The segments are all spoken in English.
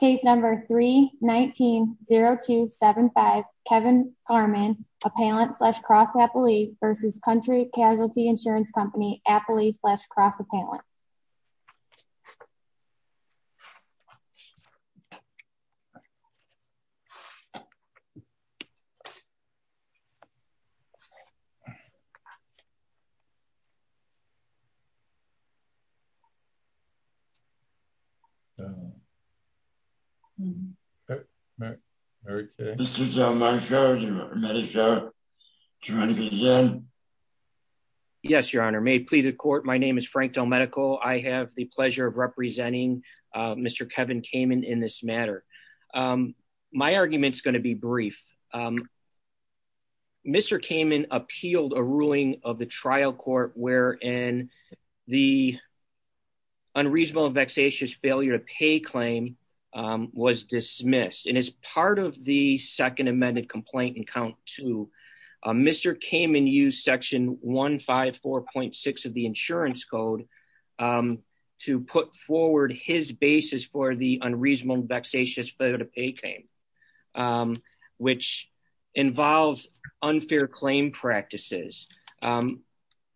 Case number 319-0275, Kevin Kamin, appellant slash cross appellee versus Country Casualty Insurance Company, appellee slash cross appellant. Yes, your honor may plead the court. My name is Frank Delmedico. I have the pleasure of representing Mr. Kevin Kamin in this matter. My arguments going to be brief. Mr. Kamin appealed a ruling of the trial court where in the unreasonable vexatious failure to pay claim was dismissed and as part of the second amended complaint and count to Mr. Kamin use section 154.6 of the insurance code to put forward his basis for the unreasonable vexatious failure to pay claim, which involves unfair claim practices.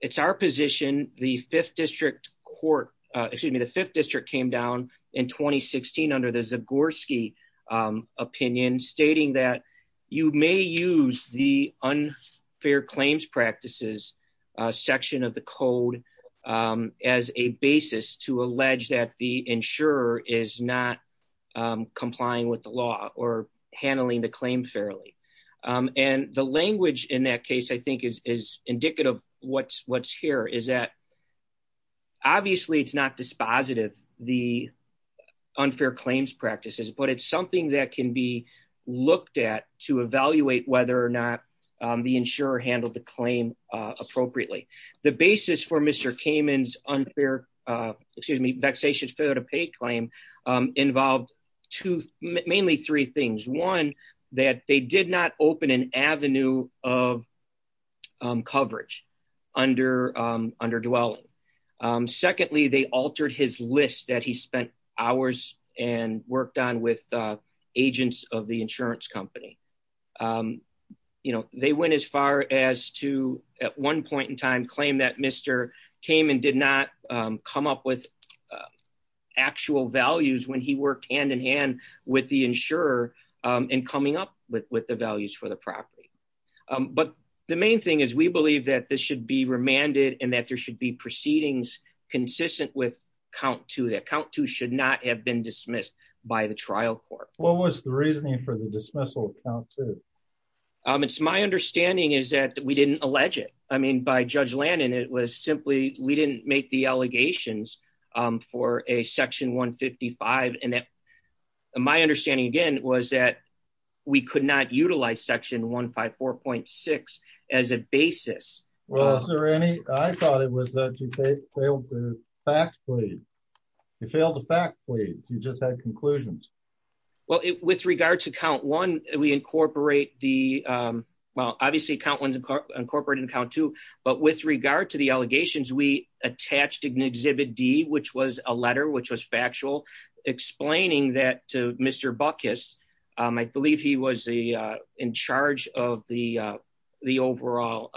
It's our position, the fifth district court, excuse me, the fifth district came down in 2016 under the Zagorski opinion stating that you may use the unfair claims practices section of the code as a basis to allege that the insurer is not complying with the law or handling the claim fairly. And the language in that case, I think is indicative of what's here is that obviously it's not dispositive the unfair claims practices, but it's something that can be looked at to evaluate whether or not the insurer handled the claim appropriately. The basis for Mr. Kamin's unfair, excuse me, vexatious failure to pay claim involved two, mainly three things. One, that they did not open an avenue of coverage under under dwelling. Secondly, they altered his list that he spent hours and worked on with agents of the insurance company. You know, they went as far as to at one point in time claim that Mr. Kamin did not come up with actual values when he worked hand in hand with the insurer and coming up with with the values for the property. But the main thing is we believe that this should be remanded and that there should be proceedings consistent with count to that count to should not have been dismissed by the trial court. What was the reasoning for the dismissal. It's my understanding is that we didn't allege it. I mean by Judge Landon it was simply, we didn't make the allegations for a section 155 and that my understanding again was that we could not utilize section 154.6 as a basis. Well, is there any, I thought it was that you failed to factfully you failed to factfully you just had conclusions. Well, with regard to count one, we incorporate the. Well, obviously count ones and corporate and count to, but with regard to the allegations we attached an exhibit D which was a letter which was factual explaining that to Mr. I believe he was the in charge of the, the overall.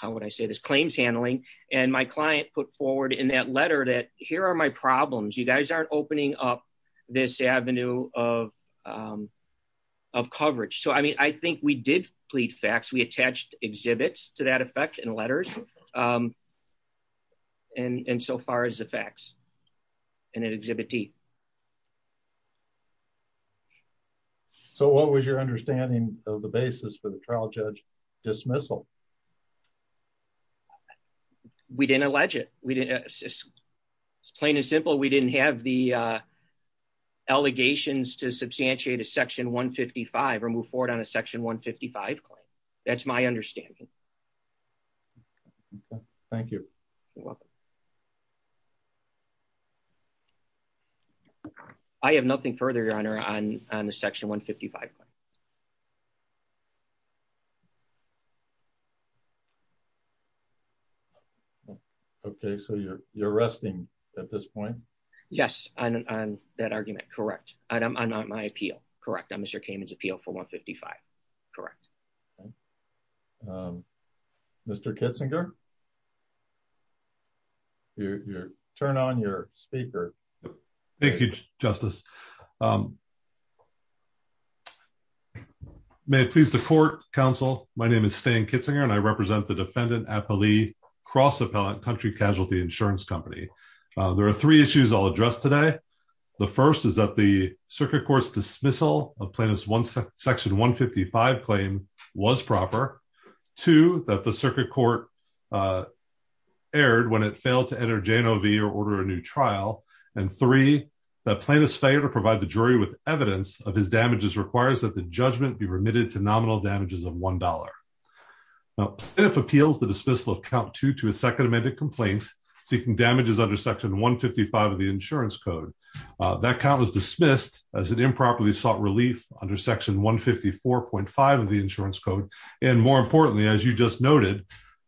How would I say this claims handling, and my client put forward in that letter that here are my problems you guys aren't opening up this avenue of of coverage so I mean I think we did plead facts we attached exhibits to that effect and letters. And so far as the facts. And then exhibit D. So what was your understanding of the basis for the trial judge dismissal. We didn't allege it, we didn't. Plain and simple we didn't have the allegations to substantiate a section 155 or move forward on a section 155. That's my understanding. Thank you. I have nothing further your honor on on the section 155. Okay, so you're, you're resting at this point. Yes, I'm that argument. Correct. I'm not my appeal. Correct. I'm Mr came into appeal for 155. Correct. Mr Kitzinger. Your turn on your speaker. Thank you, Justice. Thank you, Justice. May it please the court, counsel, my name is Stan Kitzinger and I represent the defendant appellee cross appellate country casualty insurance company. There are three issues I'll address today. The first is that the circuit courts dismissal of plaintiffs one section 155 claim was proper to that the circuit court aired when it failed to enter JNLV or order a new trial, and three, the plaintiffs favor provide the jury with evidence of his damages requires that the judgment be remitted to nominal damages of $1. If appeals the dismissal of count to to a second amended complaint, seeking damages under section 155 of the insurance code that count was dismissed as an improperly sought relief under section 154.5 of the insurance code. And more importantly, as you just noted,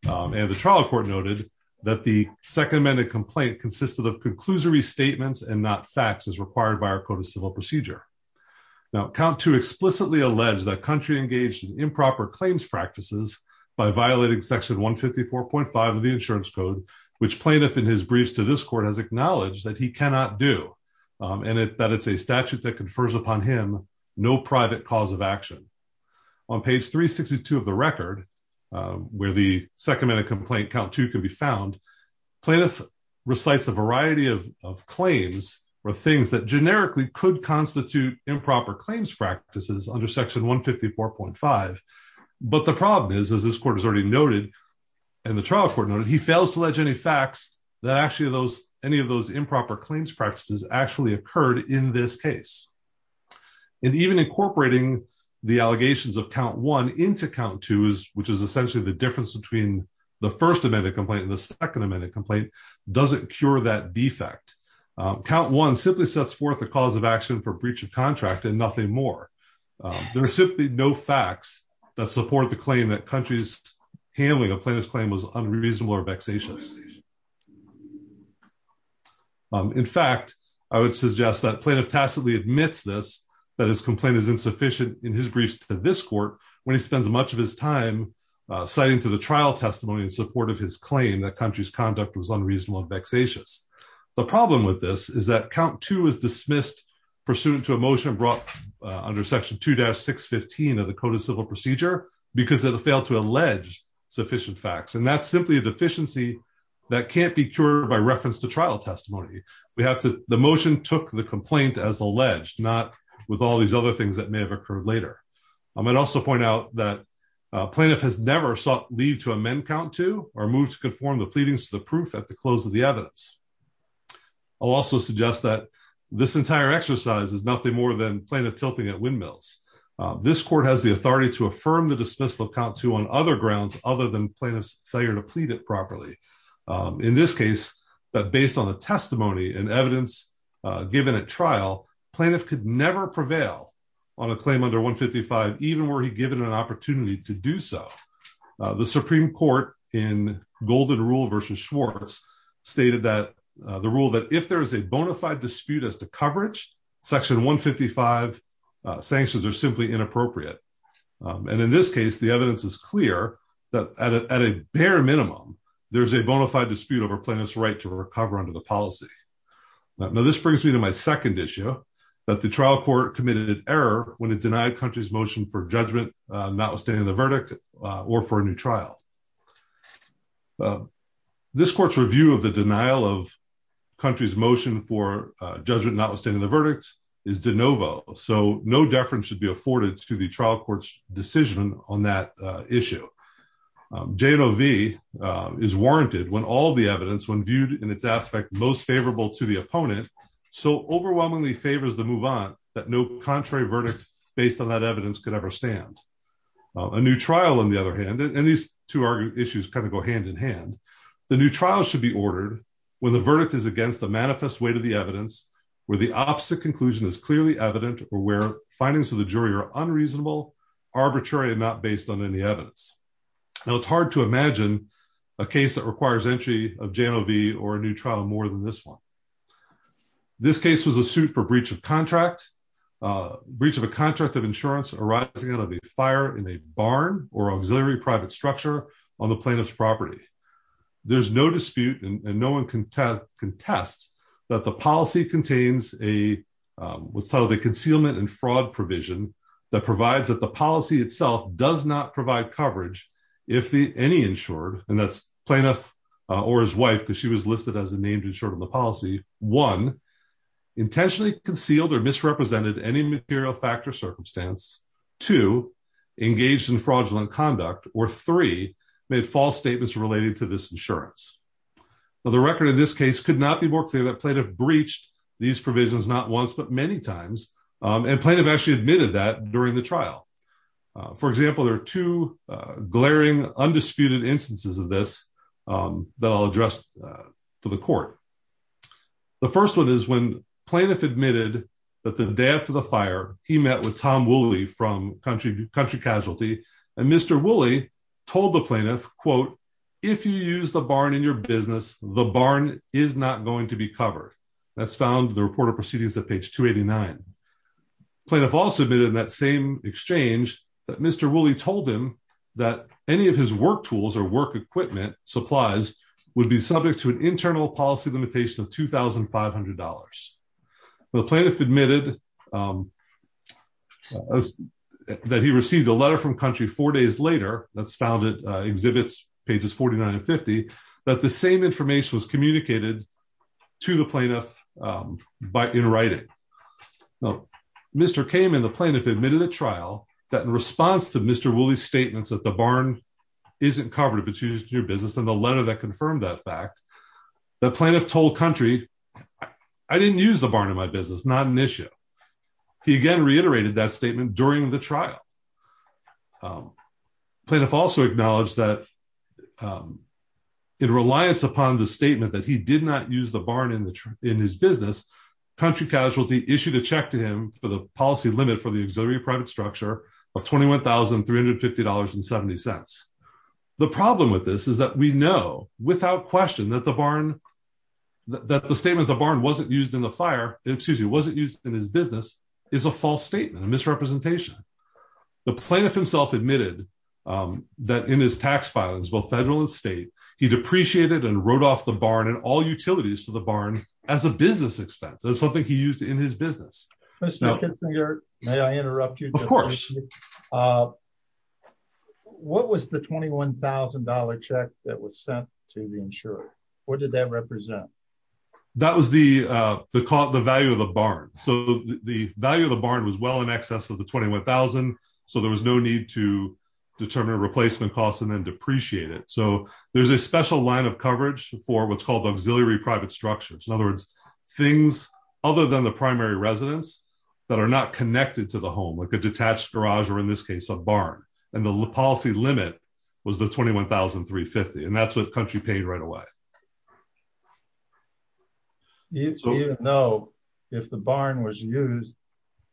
and the trial court noted that the second amended complaint consisted of conclusory statements and not fax is required by our code of civil procedure. Now count to explicitly allege that country engaged improper claims practices by violating section 154.5 of the insurance code, which plaintiff in his briefs to this court has acknowledged that he cannot do, and it that it's a statute that confers upon him, no private cause of action on page 362 of the record, where the second minute complaint count to can be found plaintiff recites a variety of claims or things that generically could constitute improper claims practices under section 154.5. But the problem is, as this court has already noted, and the trial court noted he fails to ledge any facts that actually those any of those improper claims practices actually occurred in this case. And even incorporating the allegations of count one into count two is, which is essentially the difference between the first amendment complaint and the second amendment complaint doesn't cure that defect count one simply sets forth the cause of action for breach of contract and nothing more. There are simply no facts that support the claim that country's handling of plaintiff's claim was unreasonable or vexatious. In fact, I would suggest that plaintiff tacitly admits this, that his complaint is insufficient in his briefs to this court, when he spends much of his time, citing to the trial testimony in support of his claim that country's conduct was unreasonable and vexatious. The problem with this is that count two is dismissed pursuant to emotion brought under section two dash 615 of the code of civil procedure, because it failed to allege sufficient facts and that's simply a deficiency that can't be cured by reference to trial testimony, we have to the motion took the complaint as alleged not with all these other things that may have occurred later. I might also point out that plaintiff has never sought leave to amend count to or move to conform the pleadings to the proof at the close of the evidence. I'll also suggest that this entire exercise is nothing more than plaintiff tilting at windmills. This court has the authority to affirm the dismissal of count two on other grounds, other than plaintiff's failure to plead it properly. In this case, but based on the testimony and evidence, given a trial plaintiff could never prevail on a claim under 155 even were he given an opportunity to do so. The Supreme Court in golden rule versus Schwartz stated that the rule that if there is a bona fide dispute as the coverage section 155 sanctions are simply inappropriate. And in this case, the evidence is clear that at a bare minimum, there's a bona fide dispute over plaintiff's right to recover under the policy. Now this brings me to my second issue that the trial court committed an error when it denied country's motion for judgment, not withstanding the verdict, or for a new trial. This court's review of the denial of country's motion for judgment not withstanding the verdict is de novo, so no deference should be afforded to the trial court's decision on that issue. J and O V is warranted when all the evidence when viewed in its aspect most favorable to the opponent. So overwhelmingly favors the move on that no contrary verdict, based on that evidence could ever stand a new trial, on the other hand, and these two Now it's hard to imagine a case that requires entry of J and O V or a new trial more than this one. This case was a suit for breach of contract, breach of a contract of insurance arising out of a fire in a barn or auxiliary private structure on the plaintiff's property. There's no dispute and no one can test contests that the policy contains a what's called a concealment and fraud provision that provides that the policy itself does not provide coverage. If the any insured and that's plaintiff or his wife because she was listed as a named insured on the policy one intentionally concealed or misrepresented any material factor circumstance to engage in fraudulent conduct or three made false statements related to this insurance. The record in this case could not be more clear that plaintiff breached these provisions, not once but many times and plaintiff actually admitted that during the trial. For example, there are two glaring undisputed instances of this that I'll address for the court. The first one is when plaintiff admitted that the day after the fire, he met with Tom Willie from country country casualty and Mr Willie told the plaintiff, quote, if you use the barn in your business, the barn is not going to be covered. That's found the report of proceedings that page 289 plaintiff also been in that same exchange that Mr Willie told him that any of his work tools or work equipment supplies would be subject to an internal policy limitation of $2,500. The plaintiff admitted that he received a letter from country four days later, that's found it exhibits pages 4950 that the same information was communicated to the plaintiff by in writing. Mr came in the plane if admitted a trial that in response to Mr Willie statements that the barn isn't covered but she's your business and the letter that confirmed that fact that plaintiff told country. I didn't use the barn in my business not an issue. He again reiterated that statement during the trial. Plaintiff also acknowledged that in reliance upon the statement that he did not use the barn in the in his business country casualty issue to check to him for the policy limit for the auxiliary private structure of $21,350 and 70 cents. The problem with this is that we know without question that the barn that the statement the barn wasn't used in the fire, excuse me wasn't used in his business is a false statement and misrepresentation. The plaintiff himself admitted that in his tax files will federal and state, he depreciated and wrote off the barn and all utilities for the barn as a business expense as something he used in his business. Now, may I interrupt you, of course. What was the $21,000 check that was sent to the insurer. What did that represent. That was the caught the value of the barn. So, the value of the barn was well in excess of the 21,000. So there was no need to determine replacement costs and then depreciate it so there's a special line of coverage for what's called auxiliary private structures in other words, things other than the primary residents that are not connected to the home like a detached garage or in this case a barn, and the policy limit was the 21,350 and that's what country paid right away. No. If the barn was used,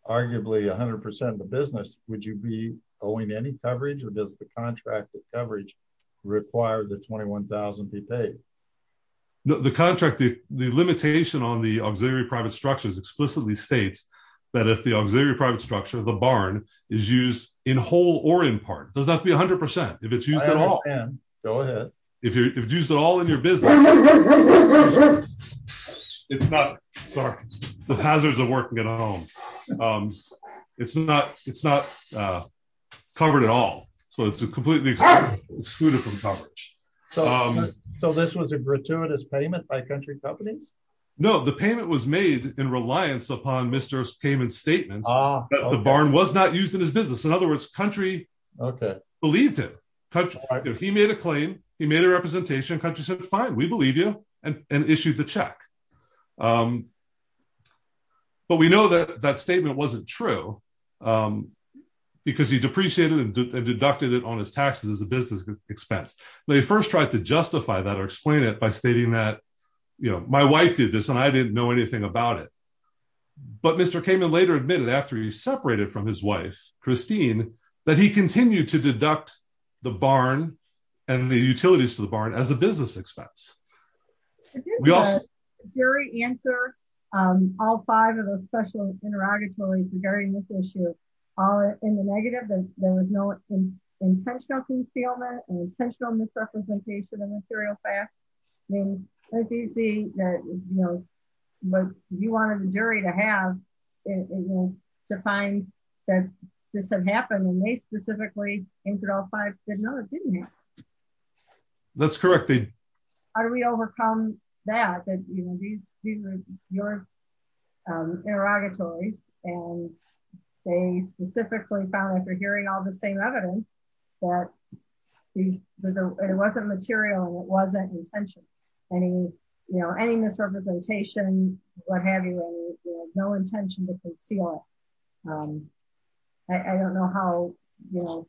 arguably 100% of the business, would you be owing any coverage or does the contract coverage required the 21,000 be paid the contract the, the limitation on the auxiliary private structures explicitly states that if the auxiliary it's not, sorry, the hazards of working at home. It's not, it's not covered at all. So it's a completely excluded from coverage. So this was a gratuitous payment by country companies. No, the payment was made in reliance upon Mr payment statements. The barn was not using his business in other words country. Okay, believed it. He made a claim, he made a representation country said fine we believe you, and issued the check. But we know that that statement wasn't true, because he depreciated and deducted it on his taxes as a business expense. They first tried to justify that or explain it by stating that, you know, my wife did this and I didn't know anything about it. But Mr came in later admitted after he separated from his wife, Christine, that he continued to deduct the barn and the utilities to the barn as a business expense. Yes, very answer. All five of those special interrogatory regarding this issue are in the negative and there was no intentional concealment intentional misrepresentation of material facts. Maybe, maybe that, you know, but you wanted a jury to have to find that this had happened and they specifically entered all five did not. That's correct. How do we overcome that, you know, these, your interrogatories, and they specifically found after hearing all the same evidence that it wasn't material wasn't intention. Any, you know, any misrepresentation, what have you. No intention to conceal. I don't know how, you know,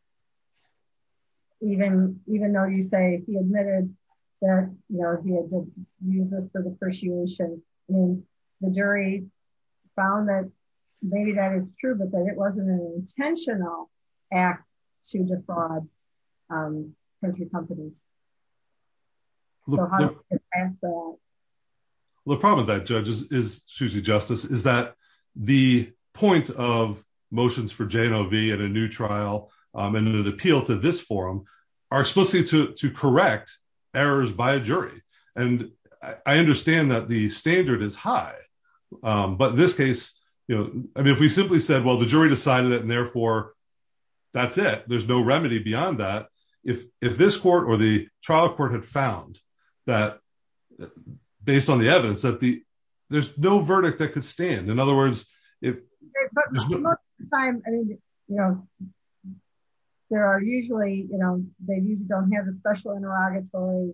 even, even though you say he admitted that, you know, he had to use this for depreciation in the jury found that maybe that is true but then it wasn't an intentional act to defraud country companies. And the problem that judges is Susie justice is that the point of motions for JV and a new trial, and an appeal to this forum are supposed to correct errors by a jury, and I understand that the standard is high. But in this case, you know, I mean if we simply said well the jury decided it and therefore, that's it, there's no remedy beyond that. If, if this court or the trial court had found that, based on the evidence that the, there's no verdict that could stand. In other words, if there are usually, you know, they don't have a special interrogatory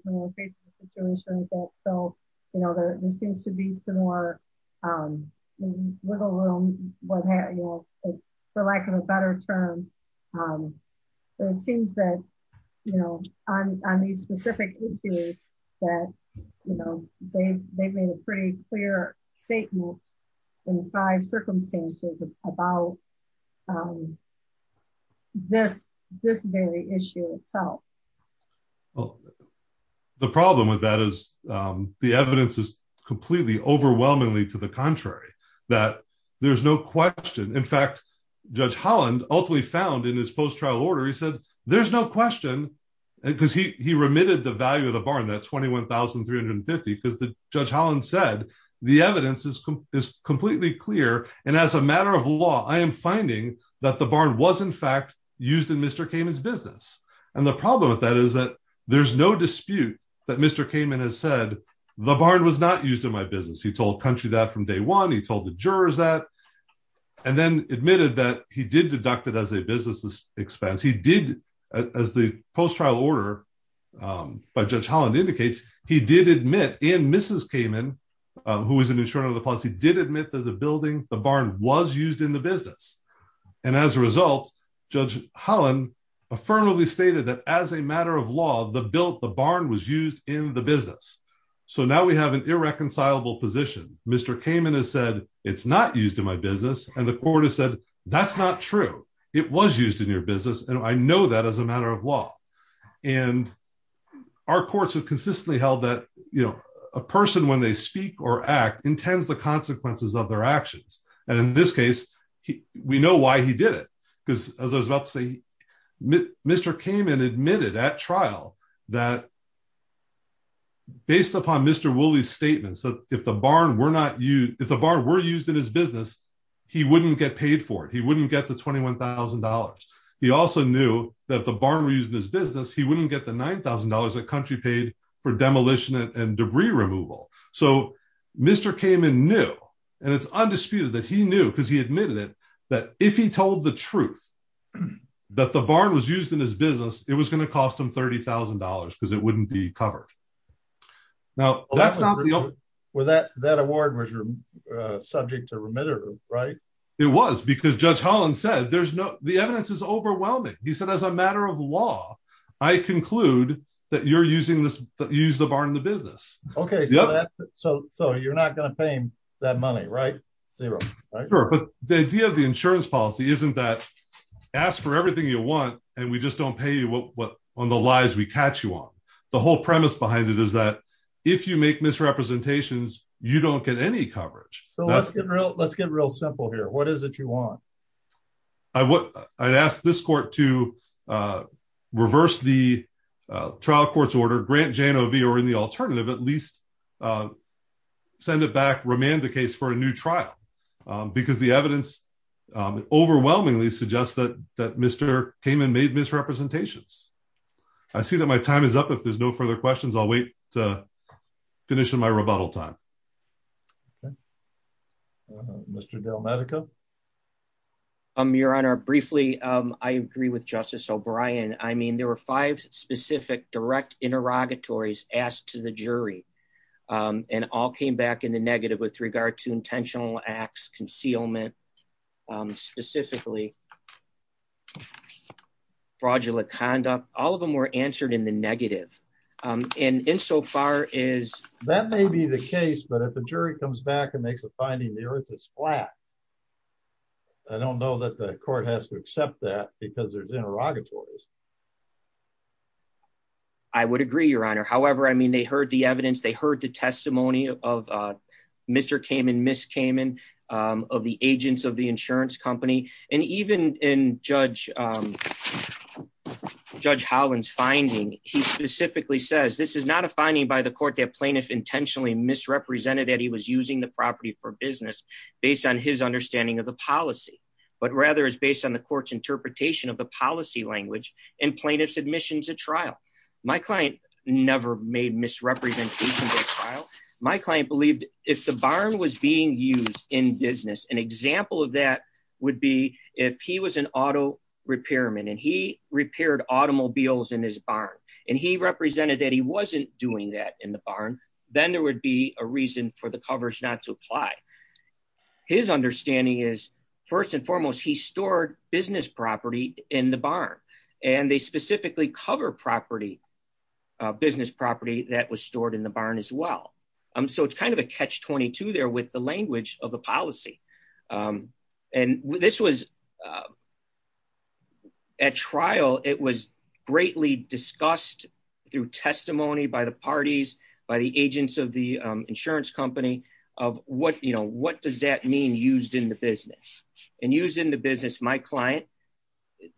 situation. So, you know, there seems to be some more wiggle room, what have you, for lack of a better term. It seems that, you know, on these specific issues that, you know, they, they made a pretty clear statement in five circumstances about this, this very issue itself. Well, the problem with that is the evidence is completely overwhelmingly to the contrary, that there's no question in fact, Judge Holland, ultimately found in his post trial order he said, there's no question, because he remitted the value of the barn that 21,350 because the Judge Holland said the evidence is completely clear. And as a matter of law, I am finding that the barn was in fact used in Mr. Kamen's business. And the problem with that is that there's no dispute that Mr. Kamen has said, the barn was not used in my business he told country that from day one he told the jurors that, and then admitted that he did deduct it as a business expense. But he did, as the post trial order by Judge Holland indicates, he did admit in Mrs Kamen, who is an insurer of the policy did admit that the building, the barn was used in the business. And as a result, Judge Holland affirmatively stated that as a matter of law, the built the barn was used in the business. So now we have an irreconcilable position, Mr Kamen has said, it's not used in my business, and the court has said, that's not true. It was used in your business and I know that as a matter of law, and our courts have consistently held that, you know, a person when they speak or act intends the consequences of their actions. And in this case, we know why he did it. Because, as I was about to say, Mr. Kamen admitted at trial that based upon Mr. Wooley's statements that if the barn were used in his business, he wouldn't get paid for it, he wouldn't get the $21,000. He also knew that the barn was used in his business, he wouldn't get the $9,000 that country paid for demolition and debris removal. So, Mr. Kamen knew, and it's undisputed that he knew because he admitted it, that if he told the truth, that the barn was used in his business, it was going to cost him $30,000 because it wouldn't be covered. Well, that award was subject to remittance, right? It was, because Judge Holland said, the evidence is overwhelming. He said, as a matter of law, I conclude that you're using the barn in the business. Okay, so you're not going to pay him that money, right? Zero. Sure, but the idea of the insurance policy isn't that, ask for everything you want, and we just don't pay you on the lies we catch you on. The whole premise behind it is that if you make misrepresentations, you don't get any coverage. So let's get real simple here. What is it you want? I'd ask this court to reverse the trial court's order, grant Jano v. or in the alternative, at least send it back, remand the case for a new trial, because the evidence overwhelmingly suggests that Mr. Kamen made misrepresentations. I see that my time is up. If there's no further questions, I'll wait to finish in my rebuttal time. Mr. Del Medico. Your Honor, briefly, I agree with Justice O'Brien. I mean, there were five specific direct interrogatories asked to the jury, and all came back in the negative with regard to intentional acts, concealment, specifically, fraudulent conduct, all of them were answered in the negative. And insofar as that may be the case, but if the jury comes back and makes a finding, the earth is flat. I don't know that the court has to accept that because there's interrogatories. I would agree, Your Honor. However, I mean, they heard the evidence. They heard the testimony of Mr. Kamen, Ms. Kamen, of the agents of the insurance company. And even in Judge Holland's finding, he specifically says, this is not a finding by the court that plaintiff intentionally misrepresented that he was using the property for business based on his understanding of the policy, but rather is based on the court's interpretation of the policy language. And plaintiff's admission to trial. My client never made misrepresentations at trial. My client believed if the barn was being used in business, an example of that would be if he was an auto repairman and he repaired automobiles in his barn, and he represented that he wasn't doing that in the barn, then there would be a reason for the coverage not to apply. His understanding is, first and foremost, he stored business property in the barn, and they specifically cover business property that was stored in the barn as well. So it's kind of a catch-22 there with the language of the policy. And this was, at trial, it was greatly discussed through testimony by the parties, by the agents of the insurance company, of what, you know, what does that mean used in the business? And used in the business, my client,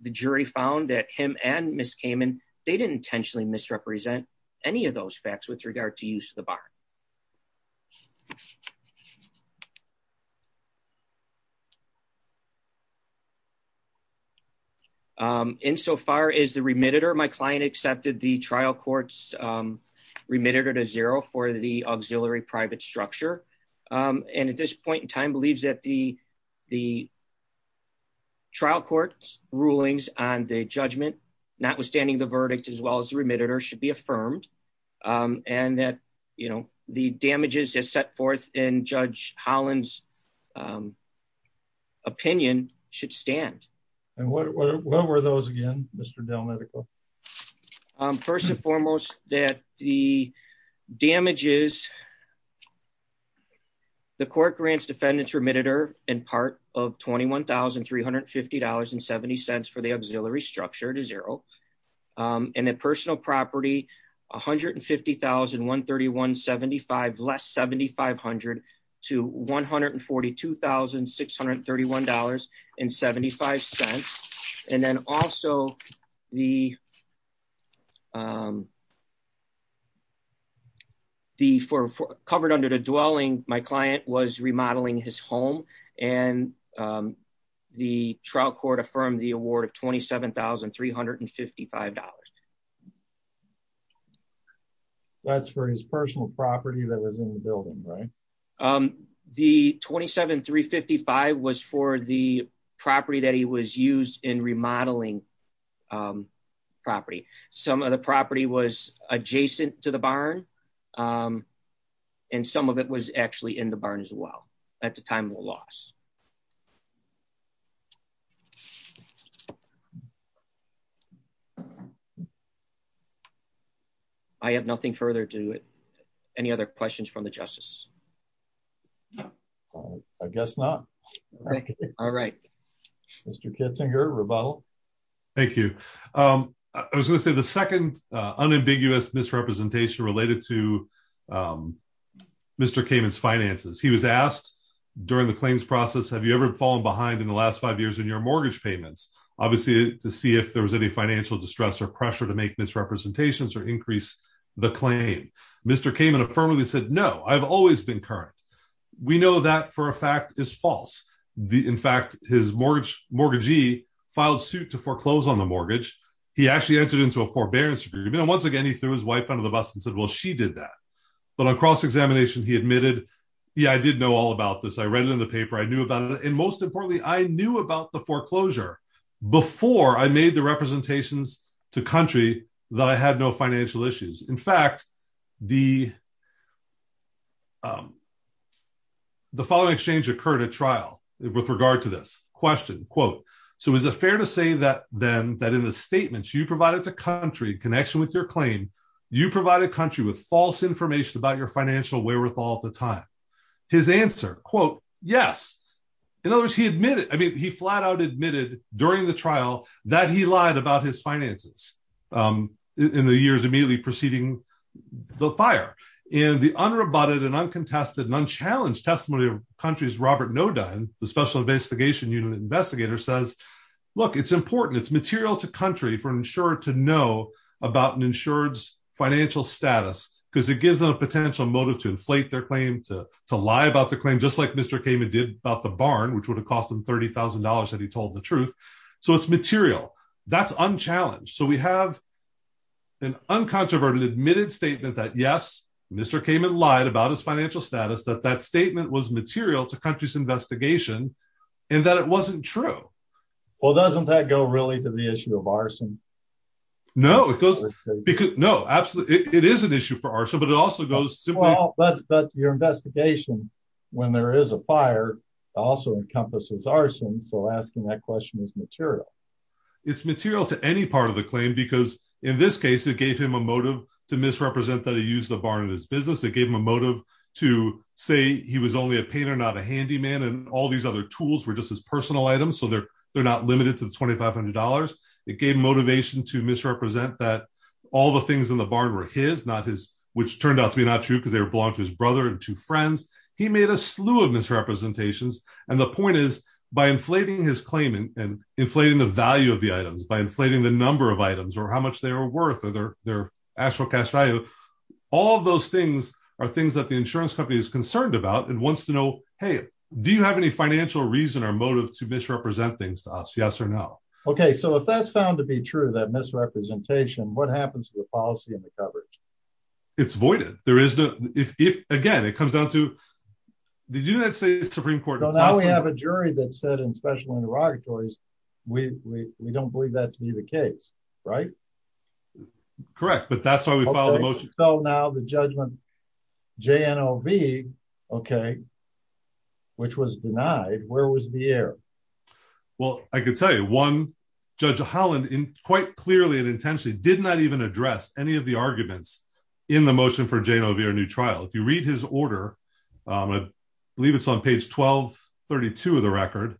the jury found that him and Ms. Kamen, they didn't intentionally misrepresent any of those facts with regard to use of the barn. Insofar as the remittitor, my client accepted the trial court's remittitor to zero for the auxiliary private structure. And at this point in time, believes that the trial court's rulings on the judgment, notwithstanding the verdict as well as remittitor, should be affirmed. And that, you know, the damages as set forth in Judge Holland's opinion should stand. And what were those again, Mr. Delmedico? First and foremost, that the damages, the court grants defendants remittitor in part of $21,350.70 for the auxiliary structure to zero. And then personal property, $150,131.75 less $7,500 to $142,631.75. And then also the, for covered under the dwelling, my client was remodeling his home and the trial court affirmed the award of $27,355. That's for his personal property that was in the building, right? The $27,355 was for the property that he was used in remodeling property. Some of the property was adjacent to the barn. And some of it was actually in the barn as well at the time of the loss. Thank you. I have nothing further to it. Any other questions from the justice. I guess not. All right. Mr. Kitzinger rebuttal. Thank you. I was going to say the second unambiguous misrepresentation related to Mr. Kamen's finances. He was asked during the claims process. Have you ever fallen behind in the last five years in your mortgage payments? Obviously, to see if there was any financial distress or pressure to make misrepresentations or increase the claim. Mr. Kamen affirmatively said, no, I've always been current. We know that for a fact is false. In fact, his mortgage mortgagee filed suit to foreclose on the mortgage. He actually entered into a forbearance agreement. And once again, he threw his wife under the bus and said, well, she did that. But on cross-examination, he admitted, yeah, I did know all about this. I read it in the paper. I knew about it. And most importantly, I knew about the foreclosure before I made the representations to country that I had no financial issues. In fact, the. The following exchange occurred at trial with regard to this question, quote. So is it fair to say that then that in the statements you provided to country connection with your claim, you provide a country with false information about your financial wherewithal at the time? His answer, quote, yes. In other words, he admitted, I mean, he flat out admitted during the trial that he lied about his finances. In the years immediately preceding the fire and the unrebutted and uncontested and unchallenged testimony of countries, Robert Noda and the Special Investigation Unit investigator says, look, it's important. It's material to country for an insurer to know about an insured's financial status because it gives them a potential motive to inflate their claim, to to lie about the claim, just like Mr. Kamin did about the barn, which would have cost him thirty thousand dollars that he told the truth. So it's material. That's unchallenged. So we have. An uncontroverted admitted statement that, yes, Mr. Kamin lied about his financial status, that that statement was material to country's investigation and that it wasn't true. Well, doesn't that go really to the issue of arson? No, it goes. No, absolutely. It is an issue for our show, but it also goes to all. But your investigation, when there is a fire, also encompasses arson. So asking that question is material. It's material to any part of the claim, because in this case, it gave him a motive to misrepresent that he used the barn in his business. It gave him a motive to say he was only a painter, not a handyman. And all these other tools were just his personal items. So they're they're not limited to the twenty five hundred dollars. It gave motivation to misrepresent that all the things in the barn were his, not his, which turned out to be not true because they belonged to his brother and two friends. He made a slew of misrepresentations. And the point is, by inflating his claim and inflating the value of the items, by inflating the number of items or how much they are worth or their their actual cash value. All of those things are things that the insurance company is concerned about and wants to know, hey, do you have any financial reason or motive to misrepresent things to us? Yes or no. OK, so if that's found to be true, that misrepresentation, what happens to the policy and the coverage? It's voided. There is no if again, it comes down to the United States Supreme Court. So now we have a jury that said in special interrogatories, we we don't believe that to be the case. Right. Correct. But that's why we filed the motion. So now the judgment J.N.O.V. OK. Which was denied. Where was the error? Well, I could tell you one Judge Holland in quite clearly and intentionally did not even address any of the arguments in the motion for J.N.O.V. or new trial. If you read his order, I believe it's on page twelve, thirty two of the record.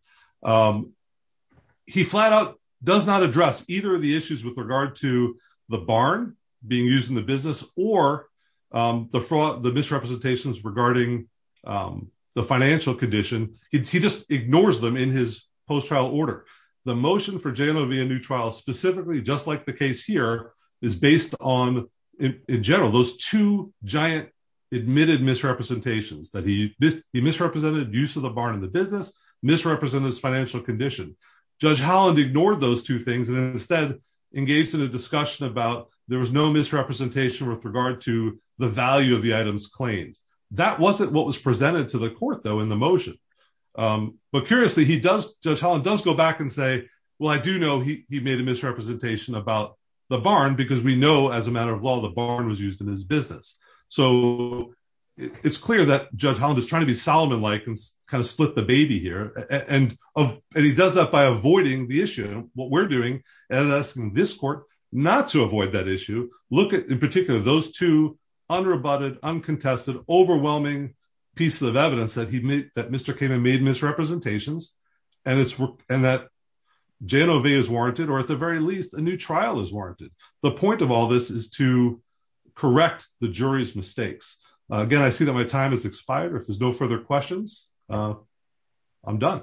He flat out does not address either of the issues with regard to the barn being used in the business or the fraud, the misrepresentations regarding the financial condition. He just ignores them in his post trial order. The motion for J.N.O.V. a new trial specifically, just like the case here, is based on, in general, those two giant admitted misrepresentations that he misrepresented use of the barn in the business misrepresents financial condition. Judge Holland ignored those two things and instead engaged in a discussion about there was no misrepresentation with regard to the value of the items claimed. That wasn't what was presented to the court, though, in the motion. But curiously, he does. Judge Holland does go back and say, well, I do know he made a misrepresentation about the barn because we know as a matter of law, the barn was used in his business. So it's clear that Judge Holland is trying to be Solomon-like and kind of split the baby here. And he does that by avoiding the issue. What we're doing is asking this court not to avoid that issue. Look at, in particular, those two unrebutted, uncontested, overwhelming pieces of evidence that he made that Mr. came and made misrepresentations and it's and that J.N.O.V. is warranted or at the very least, a new trial is warranted. The point of all this is to correct the jury's mistakes. Again, I see that my time has expired. There's no further questions. I'm done.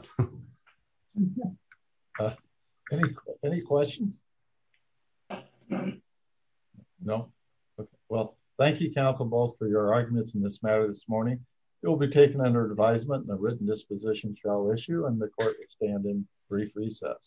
Any questions? No. Well, thank you, Counsel Balls, for your arguments in this matter this morning. You'll be taken under advisement in a written disposition trial issue and the court will stand in brief recess.